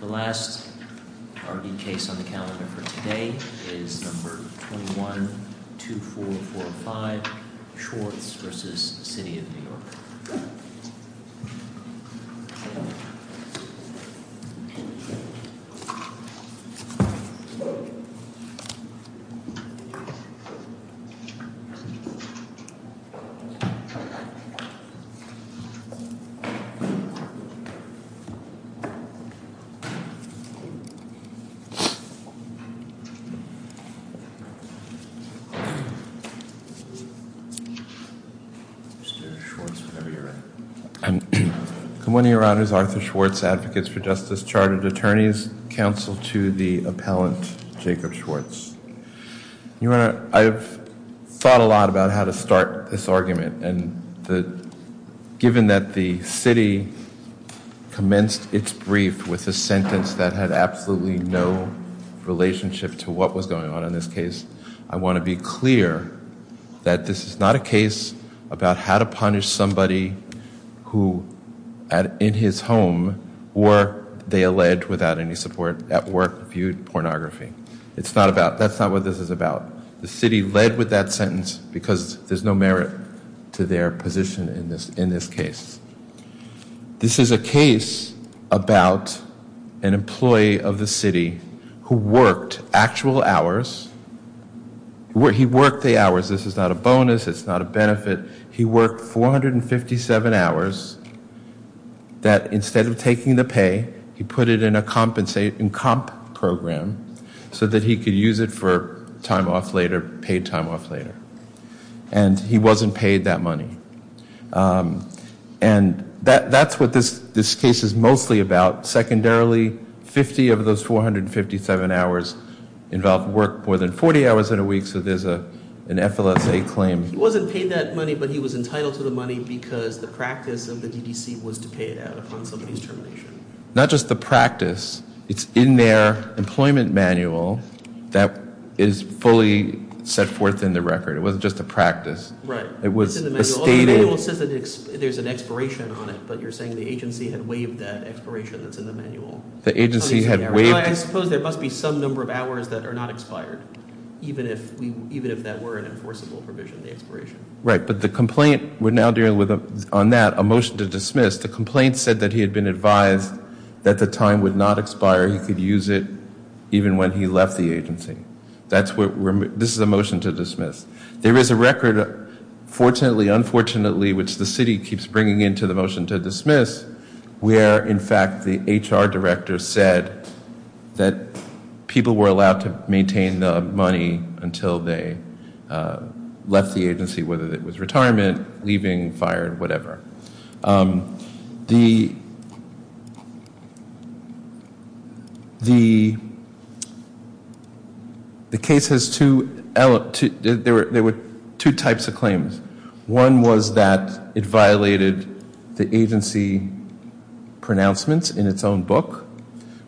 The last Rd case on the calendar for today is number 21-2445 Schwartz v. City of New York. Arthur Schwartz, Advocates for Justice, Chartered Attorneys, Counsel to the Appellant Jacob Schwartz I've thought a lot about how to start this argument and given that the city commenced its brief with a sentence that had absolutely no relationship to what was going on in this case, I want to be clear that this is not a case about how to punish somebody who, in his home, or they alleged without any support at work, viewed pornography. That's not what this is about. The city led with that sentence because there's no merit to their position in this case. This is a case about an employee of the city who worked actual hours. He worked the hours. This is not a bonus. It's not a benefit. He worked 457 hours that instead of taking the pay, he put it in a comp program so that he could use it for time off later, paid time off later. And he wasn't paid that money. And that's what this case is mostly about. Secondarily, 50 of those 457 hours involved work more than 40 hours in a week, so there's an FLSA claim. He wasn't paid that money but he was entitled to the money because the practice of the DDC was to pay it out upon somebody's termination. Not just the practice. It's in their employment manual that is fully set forth in the record. It wasn't just a practice. Right. It's in the manual. The manual says that there's an expiration on it, but you're saying the agency had waived that expiration that's in the manual. The agency had waived. I suppose there must be some number of hours that are not expired, even if that were an enforceable provision, the expiration. Right. But the complaint we're now dealing with on that, a motion to dismiss, the complaint said that he had been advised that the time would not expire. He could use it even when he left the agency. This is a motion to dismiss. There is a record, fortunately, unfortunately, which the city keeps bringing into the motion to dismiss, where, in fact, the HR director said that people were allowed to maintain the money until they left the agency, whether it was retirement, leaving, fired, whatever. The case has two types of claims. One was that it violated the agency pronouncements in its own book,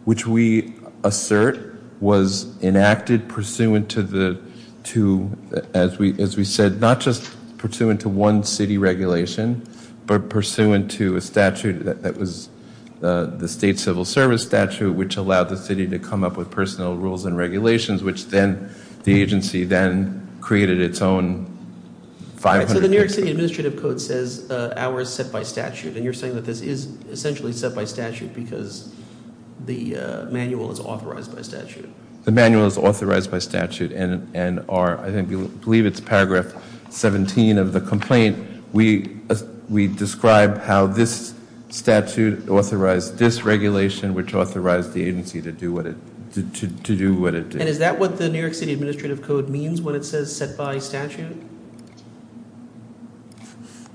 which we assert was enacted pursuant to the two, as we said, not just pursuant to one city regulation, but pursuant to a statute that was the state civil service statute, which allowed the city to come up with personal rules and regulations, which then the agency then created its own 500- So the New York City Administrative Code says hours set by statute, and you're saying that this is essentially set by statute because the manual is authorized by statute. The manual is authorized by statute, and I believe it's paragraph 17 of the complaint. We describe how this statute authorized this regulation, which authorized the agency to do what it did. And is that what the New York City Administrative Code means when it says set by statute?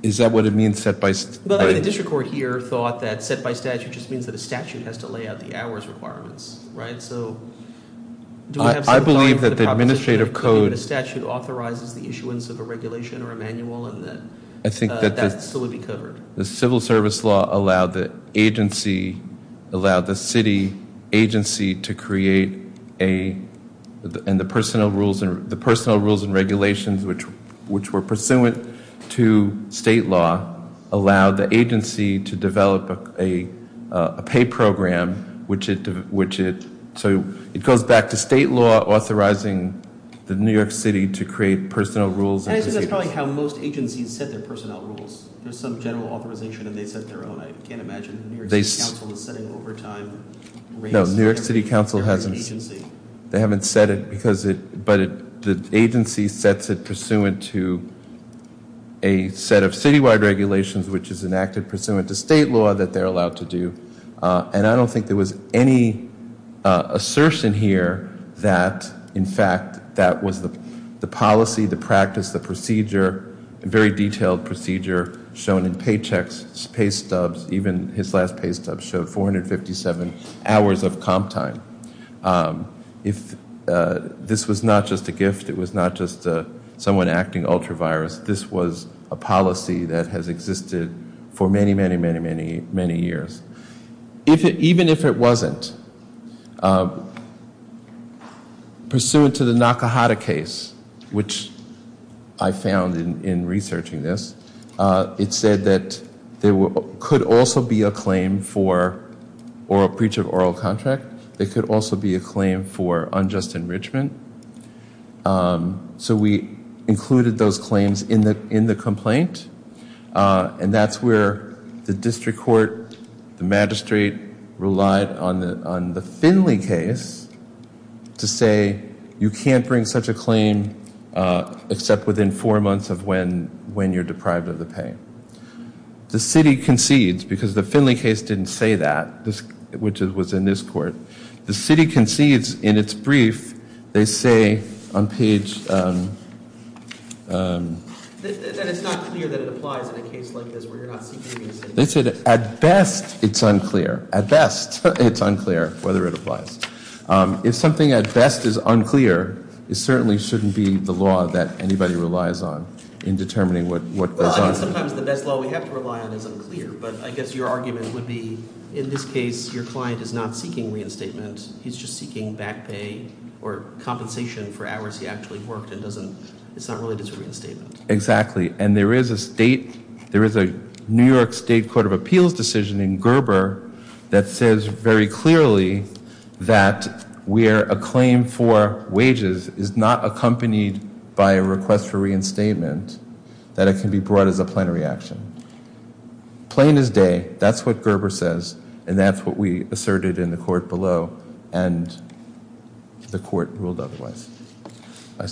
Is that what it means set by statute? The district court here thought that set by statute just means that a statute has to lay out the hours requirements, right? So do we have some time for the proposition that a statute authorizes the issuance of a regulation or a manual and that that still would be covered? The civil service law allowed the agency, allowed the city agency to create a, and the personal rules and regulations, which were pursuant to state law, allowed the agency to develop a pay program, which it, so it goes back to state law authorizing the New York City to create personal rules. And I think that's probably how most agencies set their personnel rules. There's some general authorization and they set their own. I can't imagine the New York City Council is setting overtime rates. No, New York City Council hasn't. They haven't set it because it, but the agency sets it pursuant to a set of citywide regulations which is enacted pursuant to state law that they're allowed to do. And I don't think there was any assertion here that, in fact, that was the policy, the practice, the procedure, a very detailed procedure shown in paychecks, pay stubs, even his last pay stub showed 457 hours of comp time. If this was not just a gift, it was not just someone acting ultra virus, this was a policy that has existed for many, many, many, many, many years. Even if it wasn't, pursuant to the Nakahata case, which I found in researching this, it said that there could also be a claim for, or a breach of oral contract, there could also be a claim for unjust enrichment. So we included those claims in the complaint and that's where the district court, the magistrate relied on the Finley case to say you can't bring such a claim except within four months of when you're deprived of the pay. The city concedes, because the Finley case didn't say that, which was in this court. The city concedes in its brief, they say on page, they said at best it's unclear, at best it's unclear whether it applies. If something at best is unclear, it certainly shouldn't be the law that anybody relies on in determining what goes on. Sometimes the best law we have to rely on is unclear, but I guess your argument would be, in this case, your client is not seeking reinstatement. He's just seeking back pay or compensation for hours he actually worked and it's not related to reinstatement. Exactly, and there is a New York State Court of Appeals decision in Gerber that says very clearly that where a claim for wages is not accompanied by a request for reinstatement, that it can be brought as a plenary action. Plain as day, that's what Gerber says and that's what we asserted in the court below and the court ruled otherwise.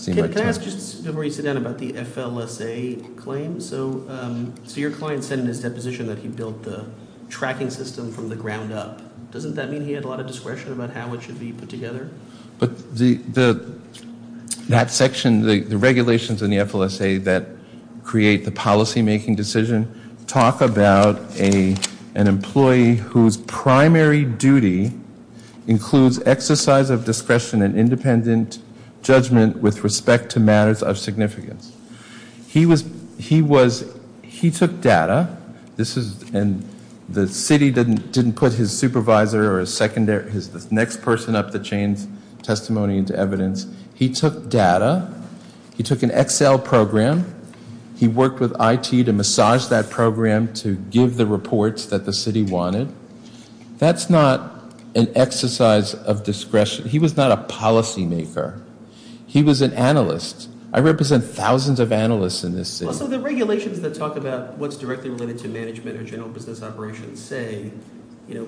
Can I ask just to sit down about the FLSA claim? So your client said in his deposition that he built the tracking system from the ground up. Doesn't that mean he had a lot of discretion about how it should be put together? But that section, the regulations in the FLSA that create the policymaking decision, talk about an employee whose primary duty includes exercise of discretion and independent judgment with respect to matters of significance. He took data, and the city didn't put his supervisor or his next person up the chain's testimony into evidence. He took data, he took an Excel program, he worked with IT to massage that program to give the reports that the city wanted. That's not an exercise of discretion. He was not a policymaker. He was an analyst. I represent thousands of analysts in this city. So the regulations that talk about what's directly related to management or general business operations say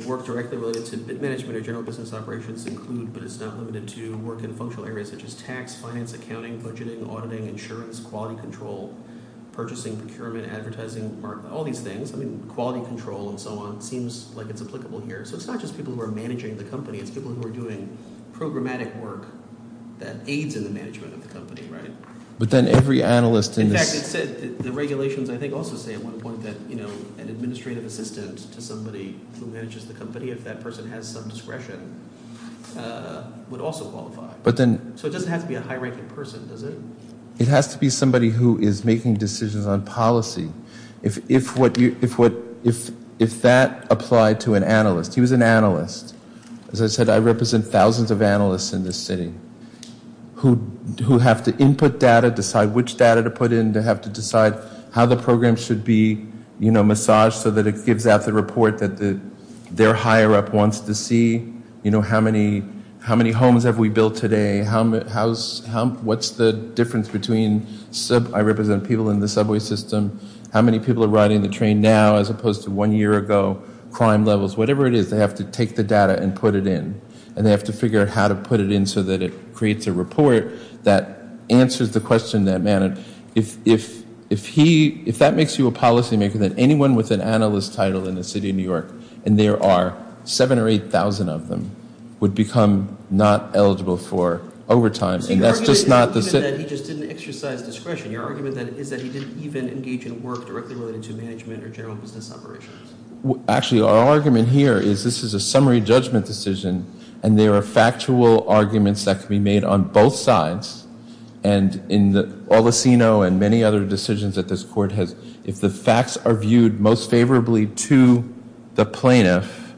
work directly related to management or general business operations include, but it's not limited to, work in functional areas such as tax, finance, accounting, budgeting, auditing, insurance, quality control, purchasing, procurement, advertising, all these things. I mean quality control and so on seems like it's applicable here. So it's not just people who are managing the company. It's people who are doing programmatic work that aids in the management of the company, right? But then every analyst in this – In fact, the regulations I think also say at one point that an administrative assistant to somebody who manages the company, if that person has some discretion, would also qualify. But then – So it doesn't have to be a high-ranking person, does it? It has to be somebody who is making decisions on policy. If that applied to an analyst – he was an analyst. As I said, I represent thousands of analysts in this city who have to input data, decide which data to put in, to have to decide how the program should be massaged so that it gives out the report that their higher-up wants to see. You know, how many homes have we built today? What's the difference between – I represent people in the subway system. How many people are riding the train now as opposed to one year ago? Crime levels. Whatever it is, they have to take the data and put it in. And they have to figure out how to put it in so that it creates a report that answers the question in that manner. If he – if that makes you a policymaker, then anyone with an analyst title in the city of New York, and there are 7,000 or 8,000 of them, would become not eligible for overtime. And that's just not the – Your argument is not that he just didn't exercise discretion. Your argument is that he didn't even engage in work directly related to management or general business operations. Actually, our argument here is this is a summary judgment decision, and there are factual arguments that can be made on both sides. And in all the CINO and many other decisions that this court has, if the facts are viewed most favorably to the plaintiff,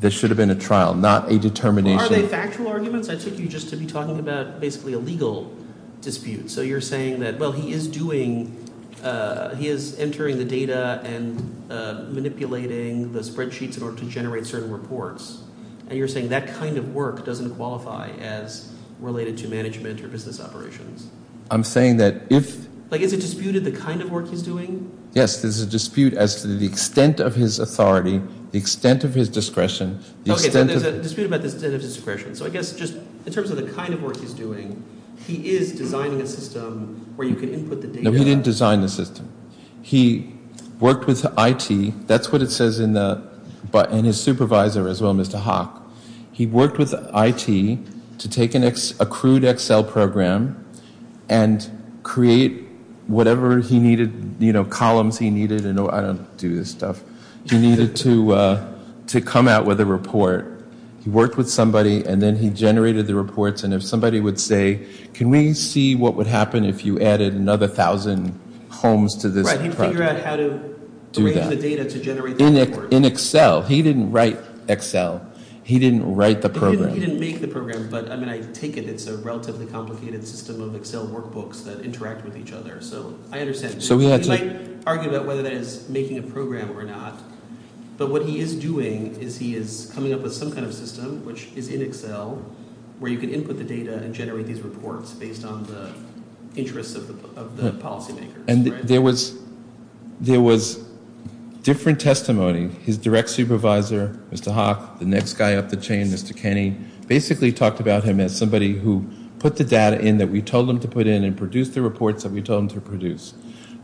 this should have been a trial, not a determination. Are they factual arguments? I took you just to be talking about basically a legal dispute. So you're saying that, well, he is doing – he is entering the data and manipulating the spreadsheets in order to generate certain reports. And you're saying that kind of work doesn't qualify as related to management or business operations. I'm saying that if – Like is it disputed the kind of work he's doing? Yes, there's a dispute as to the extent of his authority, the extent of his discretion, the extent of – Okay, so there's a dispute about the extent of discretion. So I guess just in terms of the kind of work he's doing, he is designing a system where you can input the data. No, he didn't design the system. He worked with IT. That's what it says in the – and his supervisor as well, Mr. Hock. He worked with IT to take an accrued Excel program and create whatever he needed, you know, columns he needed. I don't do this stuff. He needed to come out with a report. He worked with somebody and then he generated the reports. And if somebody would say, can we see what would happen if you added another thousand homes to this project? Right, he'd figure out how to arrange the data to generate the reports. In Excel. He didn't write Excel. He didn't write the program. He didn't make the program. But, I mean, I take it it's a relatively complicated system of Excel workbooks that interact with each other. So I understand. So he had to – He might argue about whether that is making a program or not. But what he is doing is he is coming up with some kind of system, which is in Excel, where you can input the data and generate these reports based on the interests of the policy makers. And there was different testimony. His direct supervisor, Mr. Hock, the next guy up the chain, Mr. Kenney, basically talked about him as somebody who put the data in that we told him to put in and produced the reports that we told him to produce.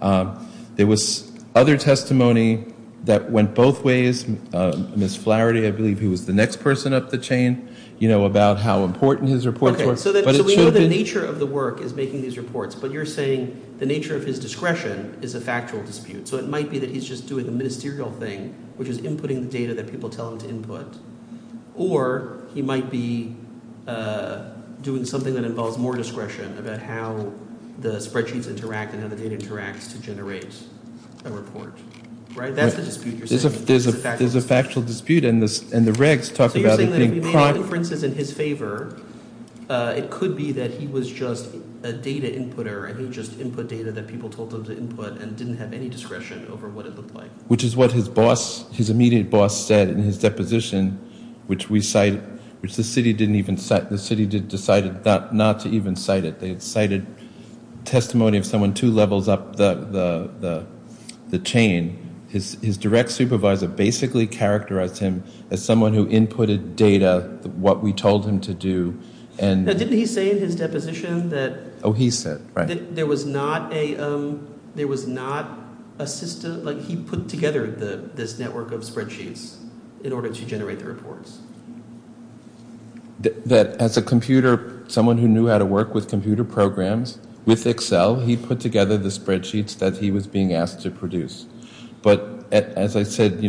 There was other testimony that went both ways. Ms. Flaherty, I believe, who was the next person up the chain, you know, about how important his reports were. Okay, so we know the nature of the work is making these reports. But you're saying the nature of his discretion is a factual dispute. So it might be that he's just doing the ministerial thing, which is inputting the data that people tell him to input. Or he might be doing something that involves more discretion about how the spreadsheets interact and how the data interacts to generate a report. Right? That's the dispute you're saying. There's a factual dispute, and the regs talk about it. So you're saying that if he made inferences in his favor, it could be that he was just a data inputter and he would just input data that people told him to input and didn't have any discretion over what it looked like. Which is what his immediate boss said in his deposition, which the city decided not to even cite it. They had cited testimony of someone two levels up the chain. His direct supervisor basically characterized him as someone who inputted data, what we told him to do. Now, didn't he say in his deposition that- Oh, he said, right. That there was not a system, like he put together this network of spreadsheets in order to generate the reports. That as a computer, someone who knew how to work with computer programs, with Excel, he put together the spreadsheets that he was being asked to produce. But as I said,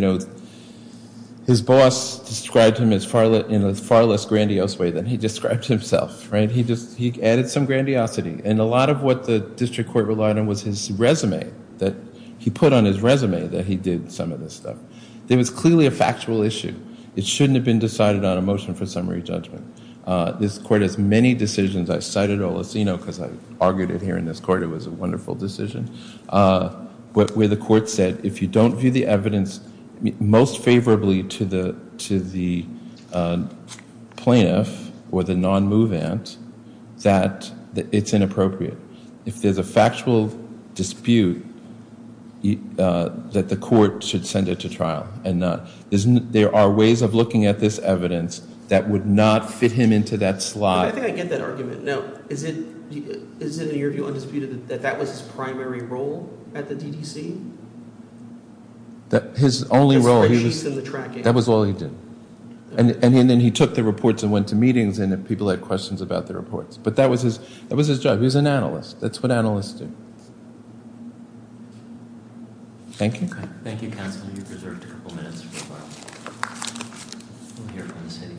his boss described him in a far less grandiose way than he described himself. He added some grandiosity. And a lot of what the district court relied on was his resume, that he put on his resume that he did some of this stuff. It was clearly a factual issue. It shouldn't have been decided on a motion for summary judgment. This court has many decisions. I cited Olaceno because I argued it here in this court. It was a wonderful decision. Where the court said, if you don't view the evidence most favorably to the plaintiff or the non-move ant, that it's inappropriate. If there's a factual dispute, that the court should send it to trial and not- There are ways of looking at this evidence that would not fit him into that slot. I think I get that argument. Now, is it in your view undisputed that that was his primary role at the DDC? His only role, that was all he did. And then he took the reports and went to meetings and people had questions about the reports. But that was his job. He was an analyst. That's what analysts do. Thank you. Thank you, counsel. You've reserved a couple minutes. We'll hear from the city.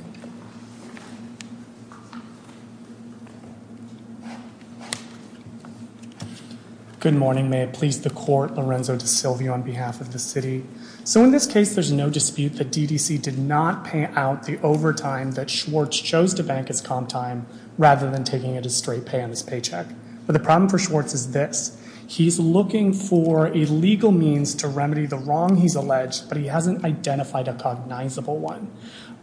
Good morning. May it please the court. Lorenzo DeSilvio on behalf of the city. So in this case, there's no dispute that DDC did not pay out the overtime that Schwartz chose to bank his comp time rather than taking it as straight pay on his paycheck. But the problem for Schwartz is this. He's looking for a legal means to remedy the wrong he's alleged, but he hasn't identified a cognizable one.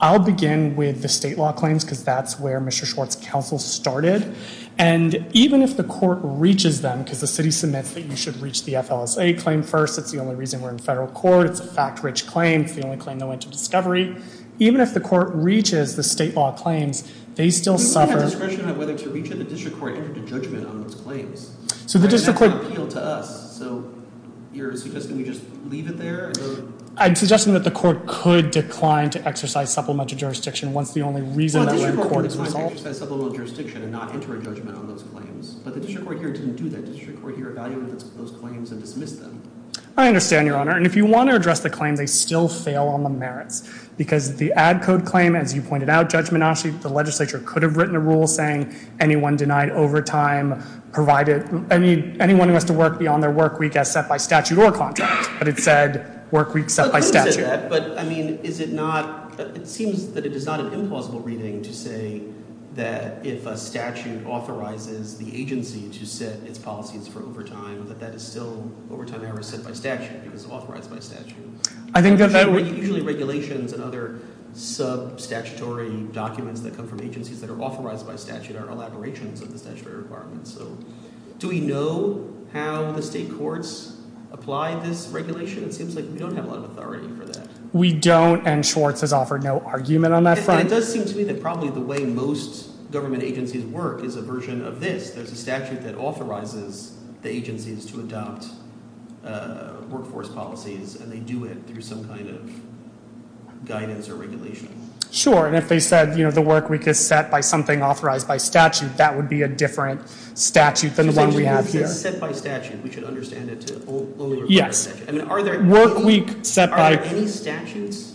I'll begin with the state law claims, because that's where Mr. Schwartz's counsel started. And even if the court reaches them, because the city submits that you should reach the FLSA claim first. It's the only reason we're in federal court. It's a fact-rich claim. It's the only claim that went to discovery. Even if the court reaches the state law claims, they still suffer- So you're suggesting we just leave it there? I'm suggesting that the court could decline to exercise supplemental jurisdiction once the only reason- Well, the district court could decline to exercise supplemental jurisdiction and not enter a judgment on those claims. But the district court here didn't do that. The district court here evaluated those claims and dismissed them. I understand, Your Honor. And if you want to address the claim, they still fail on the merits. Because the ad code claim, as you pointed out, Judge Menasche, the legislature could have written a rule saying anyone denied overtime provided- anyone who has to work beyond their work week as set by statute or contract. But it said work week set by statute. But, I mean, is it not- it seems that it is not an implausible reading to say that if a statute authorizes the agency to set its policies for overtime, that that is still overtime error set by statute because it's authorized by statute. Usually regulations and other sub-statutory documents that come from agencies that are authorized by statute are elaborations of the statutory requirements. So do we know how the state courts apply this regulation? It seems like we don't have a lot of authority for that. We don't, and Schwartz has offered no argument on that front. It does seem to me that probably the way most government agencies work is a version of this. There's a statute that authorizes the agencies to adopt workforce policies, and they do it through some kind of guidance or regulation. Sure, and if they said, you know, the work week is set by something authorized by statute, that would be a different statute than the one we have here. If it's set by statute, we should understand it to- Yes. I mean, are there any- Work week set by- Are there any statutes?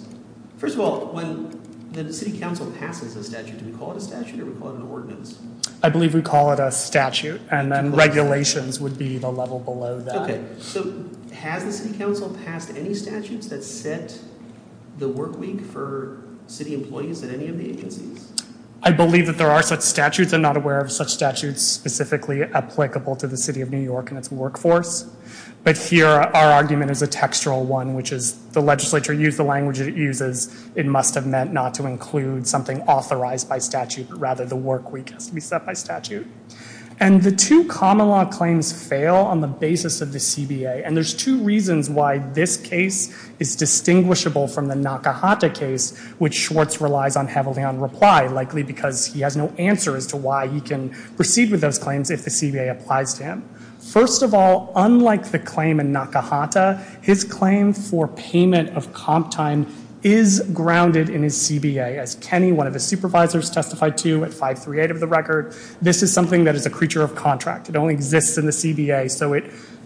First of all, when the city council passes a statute, do we call it a statute or do we call it an ordinance? I believe we call it a statute, and then regulations would be the level below that. Okay, so has the city council passed any statutes that set the work week for city employees at any of the agencies? I believe that there are such statutes. I'm not aware of such statutes specifically applicable to the city of New York and its workforce. But here, our argument is a textual one, which is the legislature used the language that it uses. It must have meant not to include something authorized by statute, but rather the work week has to be set by statute. And the two common law claims fail on the basis of the CBA, and there's two reasons why this case is distinguishable from the Nakahata case, which Schwartz relies on heavily on reply, likely because he has no answer as to why he can proceed with those claims if the CBA applies to him. First of all, unlike the claim in Nakahata, his claim for payment of comp time is grounded in his CBA. As Kenny, one of his supervisors, testified to at 538 of the record, this is something that is a creature of contract. It only exists in the CBA, so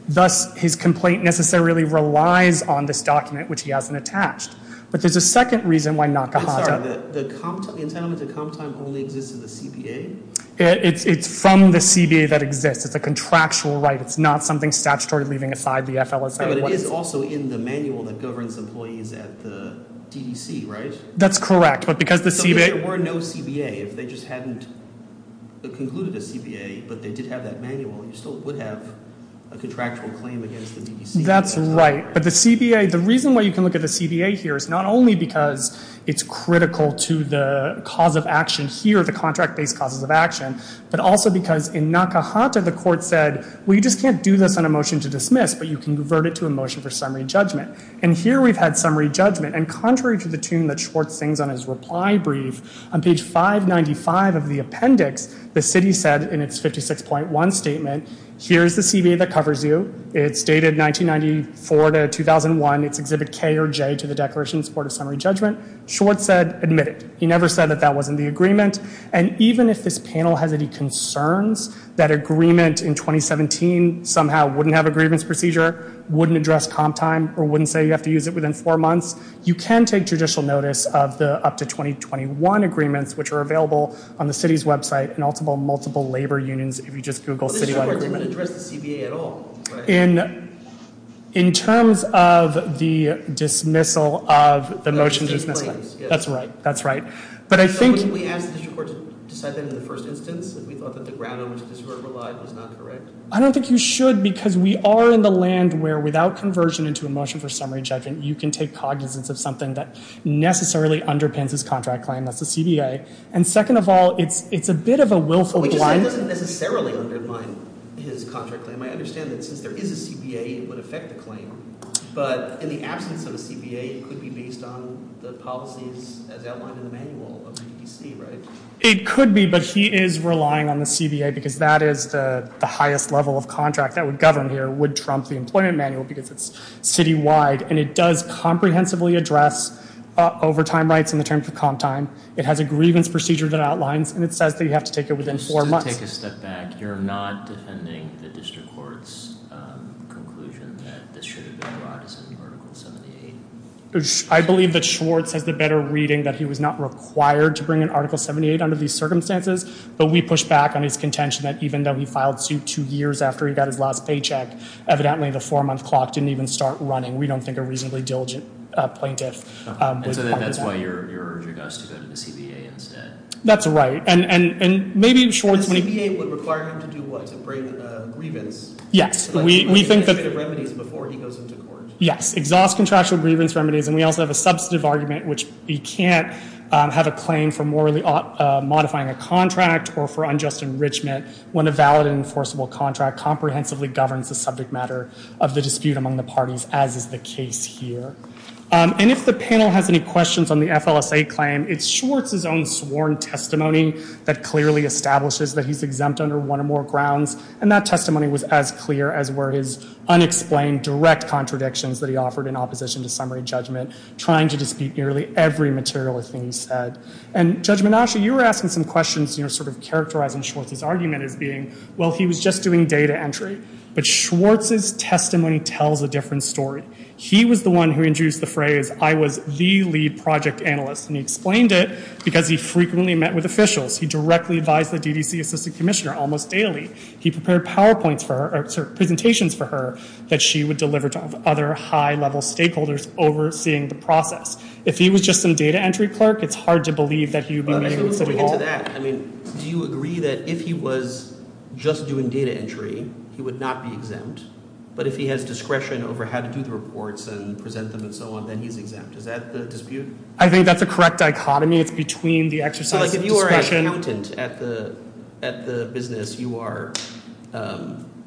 thus his complaint necessarily relies on this document, which he hasn't attached. But there's a second reason why Nakahata— I'm sorry, the entitlement to comp time only exists in the CBA? It's from the CBA that exists. It's a contractual right. It's not something statutory leaving aside the FLSA. But it is also in the manual that governs employees at the DDC, right? That's correct, but because the CBA— There were no CBA. If they just hadn't concluded a CBA, but they did have that manual, you still would have a contractual claim against the DDC. That's right, but the CBA—the reason why you can look at the CBA here is not only because it's critical to the cause of action here, the contract-based causes of action, but also because in Nakahata, the court said, well, you just can't do this on a motion to dismiss, but you can convert it to a motion for summary judgment. And here we've had summary judgment, and contrary to the tune that Schwartz sings on his reply brief, on page 595 of the appendix, the city said in its 56.1 statement, here's the CBA that covers you. It's dated 1994 to 2001. It's Exhibit K or J to the Declarations Board of Summary Judgment. Schwartz said, admit it. He never said that that wasn't the agreement. And even if this panel has any concerns that agreement in 2017 somehow wouldn't have a grievance procedure, wouldn't address comp time, or wouldn't say you have to use it within four months, you can take judicial notice of the up to 2021 agreements, which are available on the city's website, and also multiple labor unions if you just Google city-wide agreement. But this court didn't address the CBA at all, right? In terms of the dismissal of the motion to dismiss, that's right. That's right. But I think... I don't think you should, because we are in the land where without conversion into a motion for summary judgment, you can take cognizance of something that necessarily underpins his contract claim. That's the CBA. And second of all, it's a bit of a willful one. If it is a CBA, it would affect the claim. But in the absence of a CBA, it could be based on the policies as outlined in the manual of the CDC, right? It could be, but he is relying on the CBA because that is the highest level of contract that would govern here, would trump the employment manual because it's city-wide, and it does comprehensively address overtime rights in the terms of comp time. It has a grievance procedure that outlines, and it says that you have to take it within four months. If I could take a step back, you're not defending the district court's conclusion that this should have been brought as an Article 78? I believe that Schwartz has the better reading that he was not required to bring an Article 78 under these circumstances, but we push back on his contention that even though he filed suit two years after he got his last paycheck, evidently the four-month clock didn't even start running. We don't think a reasonably diligent plaintiff... And so that's why you're urging us to go to the CBA instead. That's right, and maybe Schwartz... The CBA would require him to do what? To bring a grievance? Yes, we think that... ...remedies before he goes into court. Yes, exhaust contractual grievance remedies, and we also have a substantive argument, which he can't have a claim for morally modifying a contract or for unjust enrichment when a valid and enforceable contract comprehensively governs the subject matter of the dispute among the parties, as is the case here. And if the panel has any questions on the FLSA claim, it's Schwartz's own sworn testimony that clearly establishes that he's exempt under one or more grounds, and that testimony was as clear as were his unexplained direct contradictions that he offered in opposition to summary judgment, trying to dispute nearly every material thing he said. And Judge Menasche, you were asking some questions sort of characterizing Schwartz's argument as being, well, he was just doing data entry, but Schwartz's testimony tells a different story. He was the one who introduced the phrase, I was the lead project analyst, and he explained it because he frequently met with officials. He directly advised the DDC Assistant Commissioner almost daily. He prepared PowerPoints for her, or presentations for her, that she would deliver to other high-level stakeholders overseeing the process. If he was just some data entry clerk, it's hard to believe that he would be meeting with City Hall. I mean, do you agree that if he was just doing data entry, he would not be exempt? But if he has discretion over how to do the reports and present them and so on, then he's exempt. Is that the dispute? I think that's the correct dichotomy. It's between the exercise of discretion. So like if you are an accountant at the business, you are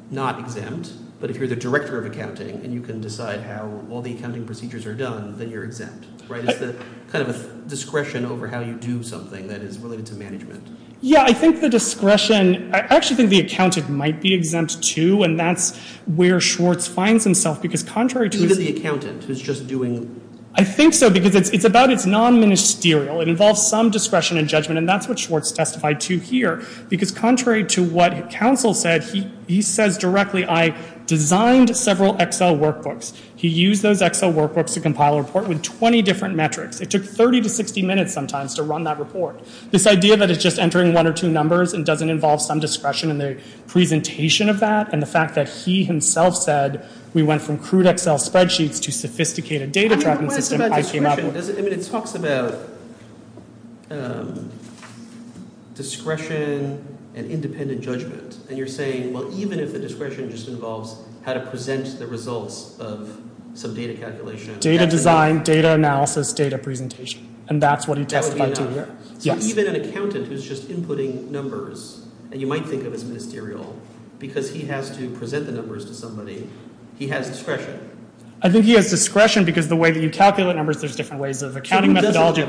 not exempt, but if you're the director of accounting and you can decide how all the accounting procedures are done, then you're exempt, right? It's the kind of discretion over how you do something that is related to management. Yeah, I think the discretion, I actually think the accountant might be exempt too, and that's where Schwartz finds himself, because contrary to... He's the accountant who's just doing... I think so, because it's about its non-ministerial. It involves some discretion and judgment, and that's what Schwartz testified to here, because contrary to what counsel said, he says directly, I designed several Excel workbooks. He used those Excel workbooks to compile a report with 20 different metrics. It took 30 to 60 minutes sometimes to run that report. This idea that it's just entering one or two numbers and doesn't involve some discretion in the presentation of that and the fact that he himself said we went from crude Excel spreadsheets to sophisticated data tracking systems... I mean, what is it about discretion? I mean, it talks about discretion and independent judgment, and you're saying, well, even if the discretion just involves how to present the results of some data calculation... Data design, data analysis, data presentation, and that's what he testified to here. That would be enough. Yes. So even an accountant who's just inputting numbers, and you might think of as ministerial, because he has to present the numbers to somebody, he has discretion. I think he has discretion because the way that you calculate numbers, there's different ways of accounting methodology. Who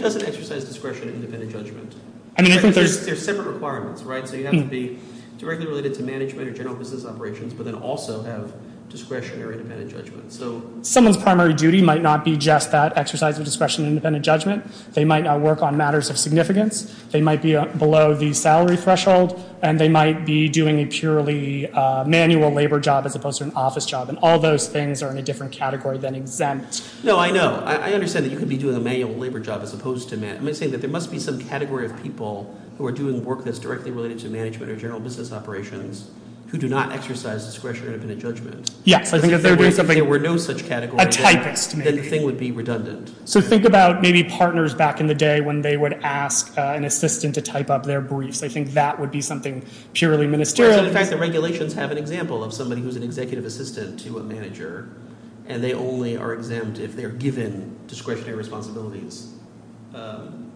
doesn't exercise discretion in independent judgment? I mean, I think there's... There's separate requirements, right? So you have to be directly related to management or general business operations, but then also have discretionary independent judgment. So someone's primary duty might not be just that exercise of discretion in independent judgment. They might not work on matters of significance. They might be below the salary threshold, and they might be doing a purely manual labor job as opposed to an office job, and all those things are in a different category than exempt. No, I know. I understand that you could be doing a manual labor job as opposed to... I'm saying that there must be some category of people who are doing work that's directly related to management or general business operations who do not exercise discretionary independent judgment. Yes. If there were no such category... A typist, maybe. Then the thing would be redundant. So think about maybe partners back in the day when they would ask an assistant to type up their briefs. I think that would be something purely ministerial. Right. So, in fact, the regulations have an example of somebody who's an executive assistant to a manager, and they only are exempt if they're given discretionary responsibilities,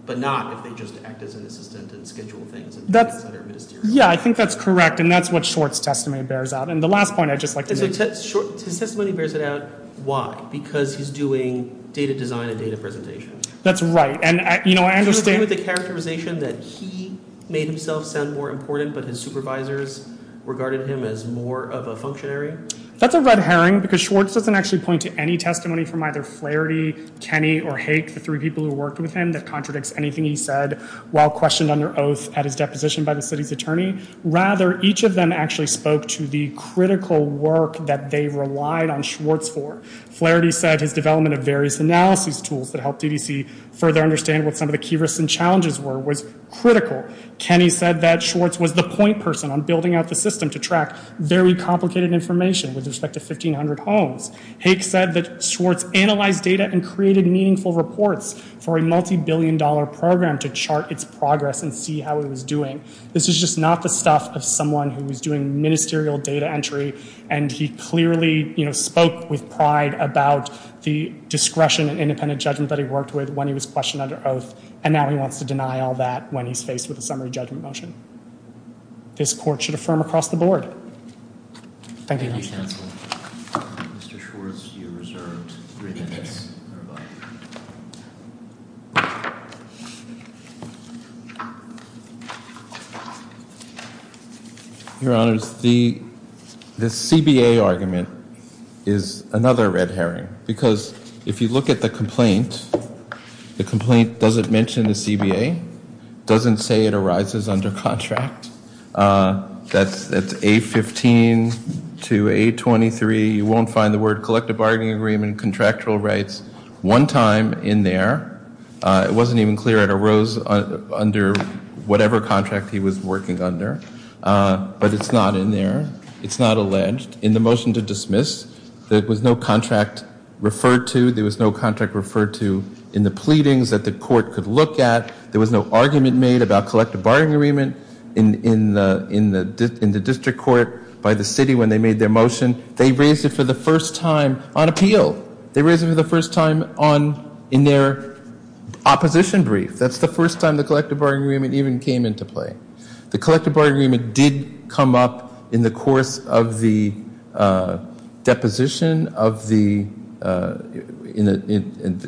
but not if they just act as an assistant and schedule things and do things that are ministerial. Yeah, I think that's correct, and that's what Short's testimony bears out. And the last point I'd just like to make... So Short's testimony bears it out. Why? Because he's doing data design and data presentation. That's right. And, you know, I understand... Do you agree with the characterization that he made himself sound more important, but his supervisors regarded him as more of a functionary? That's a red herring because Short's doesn't actually point to any testimony from either Flaherty, Kenney, or Haik, the three people who worked with him, that contradicts anything he said while questioned under oath at his deposition by the city's attorney. Rather, each of them actually spoke to the critical work that they relied on Short's for. Flaherty said his development of various analysis tools that helped DDC further understand what some of the key risks and challenges were was critical. Kenney said that Short's was the point person on building out the system to track very complicated information with respect to 1,500 homes. Haik said that Short's analyzed data and created meaningful reports for a multi-billion dollar program to chart its progress and see how it was doing. This is just not the stuff of someone who was doing ministerial data entry and he clearly, you know, spoke with pride about the discretion and independent judgment that he worked with when he was questioned under oath, and now he wants to deny all that when he's faced with a summary judgment motion. This court should affirm across the board. Thank you. Thank you, counsel. Mr. Shorts, you're reserved three minutes. Your Honors, the CBA argument is another red herring because if you look at the complaint, the complaint doesn't mention the CBA, doesn't say it arises under contract. That's A15 to A23. You won't find the word collective bargaining agreement, contractual rights, one time in there. It wasn't even clear it arose under whatever contract he was working under, but it's not in there. It's not alleged. In the motion to dismiss, there was no contract referred to. There was no contract referred to in the pleadings that the court could look at. There was no argument made about collective bargaining agreement in the district court by the city when they made their motion. They raised it for the first time on appeal. They raised it for the first time in their opposition brief. That's the first time the collective bargaining agreement even came into play. The collective bargaining agreement did come up in the course of the deposition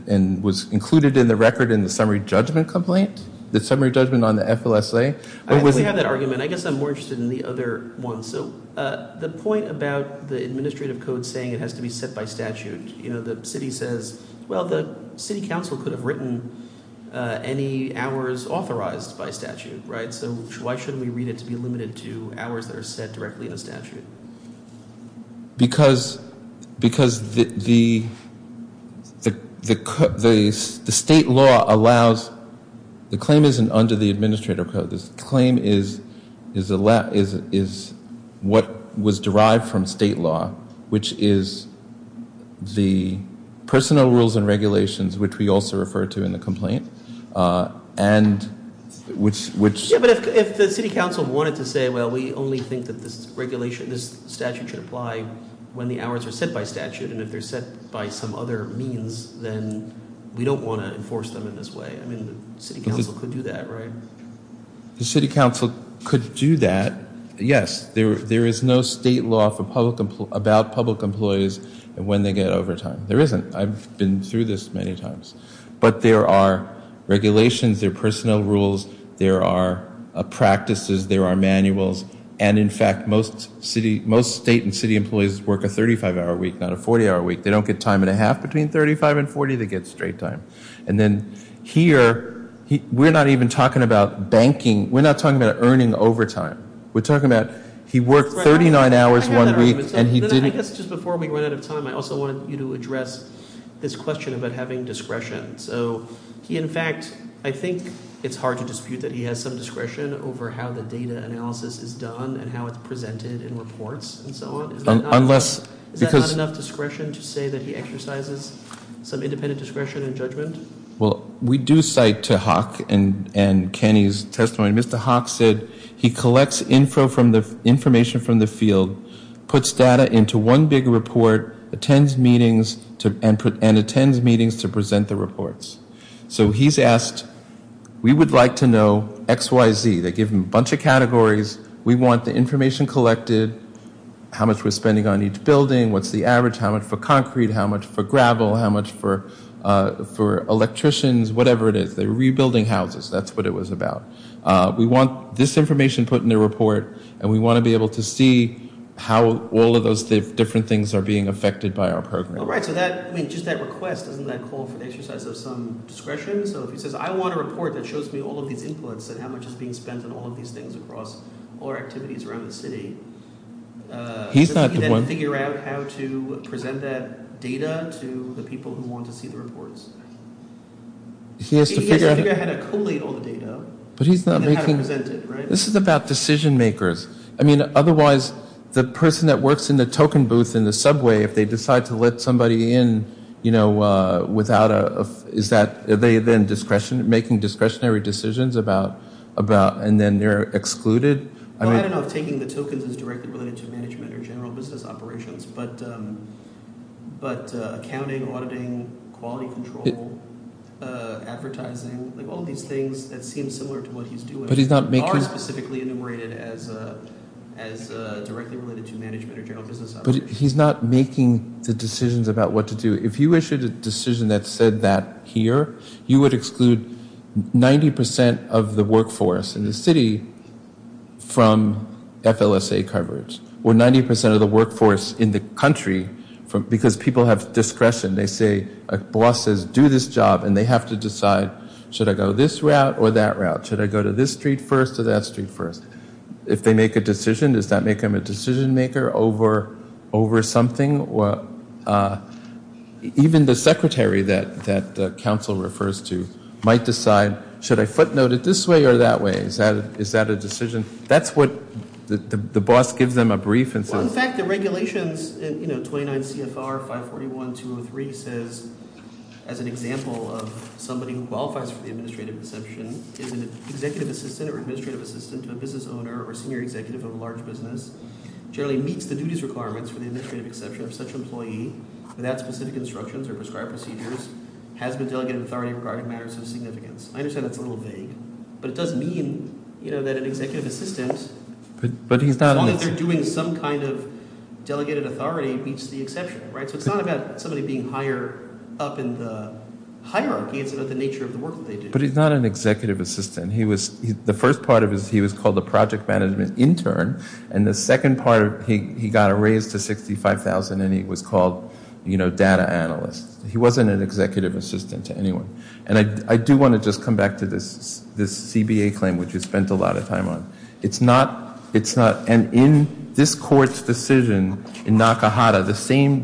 and was included in the record in the summary judgment complaint, the summary judgment on the FLSA. I actually have that argument. I guess I'm more interested in the other one. So the point about the administrative code saying it has to be set by statute, the city says, well, the city council could have written any hours authorized by statute, right? So why shouldn't we read it to be limited to hours that are set directly in a statute? Because the state law allows the claim isn't under the administrative code. The claim is what was derived from state law, which is the personal rules and regulations, which we also refer to in the complaint. Yeah, but if the city council wanted to say, well, we only think that this regulation, this statute should apply when the hours are set by statute, and if they're set by some other means, then we don't want to enforce them in this way. I mean, the city council could do that, right? The city council could do that, yes. There is no state law about public employees and when they get overtime. There isn't. I've been through this many times. But there are regulations, there are personnel rules, there are practices, there are manuals, and, in fact, most state and city employees work a 35-hour week, not a 40-hour week. They don't get time and a half between 35 and 40. They get straight time. And then here, we're not even talking about banking. We're not talking about earning overtime. We're talking about he worked 39 hours one week and he didn't. I guess just before we run out of time, I also wanted you to address this question about having discretion. So he, in fact, I think it's hard to dispute that he has some discretion over how the data analysis is done and how it's presented in reports and so on. Is that not enough discretion to say that he exercises some independent discretion and judgment? Well, we do cite to Hawk and Kenny's testimony. Mr. Hawk said he collects information from the field, puts data into one big report, attends meetings, and attends meetings to present the reports. So he's asked, we would like to know X, Y, Z. They give him a bunch of categories. We want the information collected, how much we're spending on each building, what's the average, how much for concrete, how much for gravel, how much for electricians, whatever it is. They're rebuilding houses. That's what it was about. We want this information put in a report, and we want to be able to see how all of those different things are being affected by our program. All right. So just that request, doesn't that call for the exercise of some discretion? So if he says, I want a report that shows me all of these inputs and how much is being spent on all of these things across all our activities around the city, does he then figure out how to present that data to the people who want to see the reports? He has to figure out how to collate all the data and then how to present it, right? This is about decision makers. I mean, otherwise, the person that works in the token booth in the subway, if they decide to let somebody in, you know, without a, is that, are they then discretionary, making discretionary decisions about, and then they're excluded? Well, I don't know if taking the tokens is directly related to management or general business operations, but accounting, auditing, quality control, advertising, like all of these things that seem similar to what he's doing are specifically enumerated as directly related to management or general business operations. But he's not making the decisions about what to do. If you issued a decision that said that here, you would exclude 90 percent of the workforce in the city from FLSA coverage, or 90 percent of the workforce in the country, because people have discretion. They say, a boss says, do this job, and they have to decide, should I go this route or that route? Should I go to this street first or that street first? If they make a decision, does that make them a decision maker over something? Even the secretary that the council refers to might decide, should I footnote it this way or that way? Is that a decision? That's what the boss gives them a brief and says- Well, in fact, the regulations in 29 CFR 541-203 says, as an example of somebody who qualifies for the administrative exception, is an executive assistant or administrative assistant to a business owner or senior executive of a large business, generally meets the duties requirements for the administrative exception of such employee, without specific instructions or prescribed procedures, has been delegated authority regarding matters of significance. I understand that's a little vague, but it does mean that an executive assistant, as long as they're doing some kind of delegated authority, meets the exception. So it's not about somebody being higher up in the hierarchy. It's about the nature of the work that they do. But he's not an executive assistant. The first part of it, he was called a project management intern, and the second part, he got a raise to $65,000, and he was called data analyst. He wasn't an executive assistant to anyone. And I do want to just come back to this CBA claim, which we spent a lot of time on. It's not, it's not, and in this court's decision in Nakahata, the same,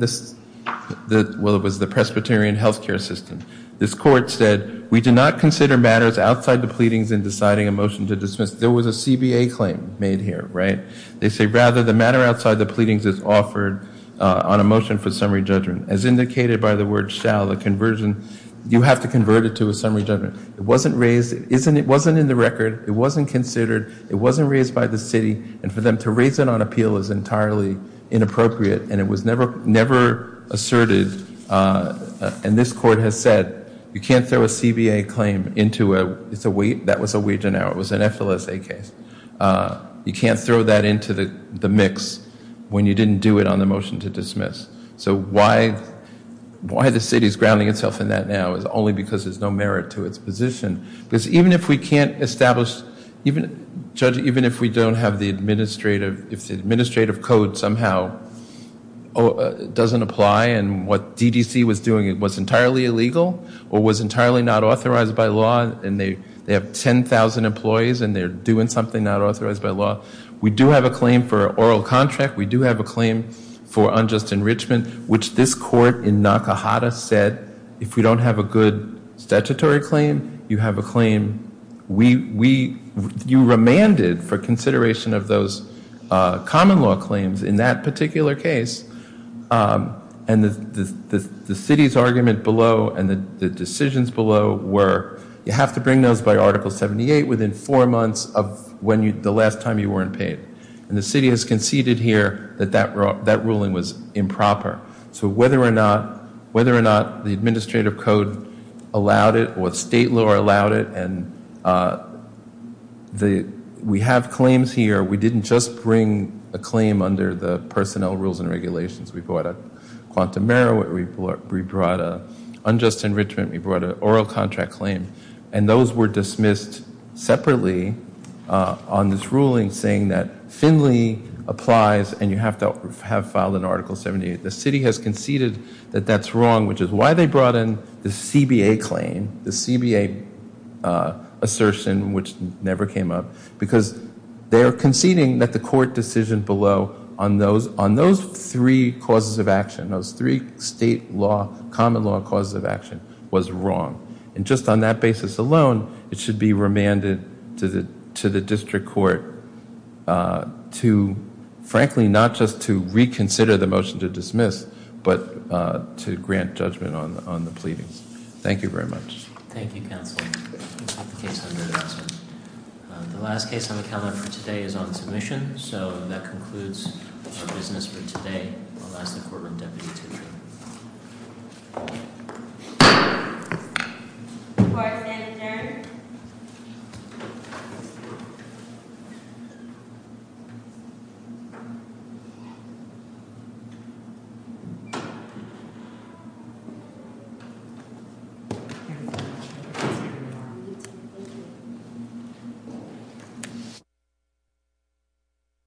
well, it was the Presbyterian Healthcare System. This court said, we do not consider matters outside the pleadings in deciding a motion to dismiss. There was a CBA claim made here, right? They say, rather, the matter outside the pleadings is offered on a motion for summary judgment. As indicated by the word shall, the conversion, you have to convert it to a summary judgment. It wasn't raised, it wasn't in the record. It wasn't considered. It wasn't raised by the city, and for them to raise it on appeal is entirely inappropriate, and it was never asserted, and this court has said, you can't throw a CBA claim into a, that was a Wage and Hour, it was an FLSA case. You can't throw that into the mix when you didn't do it on the motion to dismiss. So why, why the city's grounding itself in that now is only because there's no merit to its position. Because even if we can't establish, even, Judge, even if we don't have the administrative, if the administrative code somehow doesn't apply, and what DDC was doing was entirely illegal, or was entirely not authorized by law, and they have 10,000 employees, and they're doing something not authorized by law, we do have a claim for oral contract. We do have a claim for unjust enrichment, which this court in Nakahata said, if we don't have a good statutory claim, you have a claim, we, we, you remanded for consideration of those common law claims in that particular case, and the city's argument below and the decisions below were, you have to bring those by Article 78 within four months of when you, the last time you were in pain. And the city has conceded here that that ruling was improper. So whether or not, whether or not the administrative code allowed it, or state law allowed it, and we have claims here, we didn't just bring a claim under the personnel rules and regulations. We brought a quantum error, we brought an unjust enrichment, we brought an oral contract claim, and those were dismissed separately on this ruling saying that Finley applies, and you have to have filed an Article 78. The city has conceded that that's wrong, which is why they brought in the CBA claim, the CBA assertion, which never came up, because they're conceding that the court decision below on those, on those three causes of action, those three state law, common law causes of action was wrong. And just on that basis alone, it should be remanded to the district court to, frankly, not just to reconsider the motion to dismiss, but to grant judgment on the pleadings. Thank you very much. Thank you, counsel. The last case on the calendar for today is on submission, so that concludes our business for today. I'll ask the courtroom deputy to adjourn. Court is adjourned. Thank you.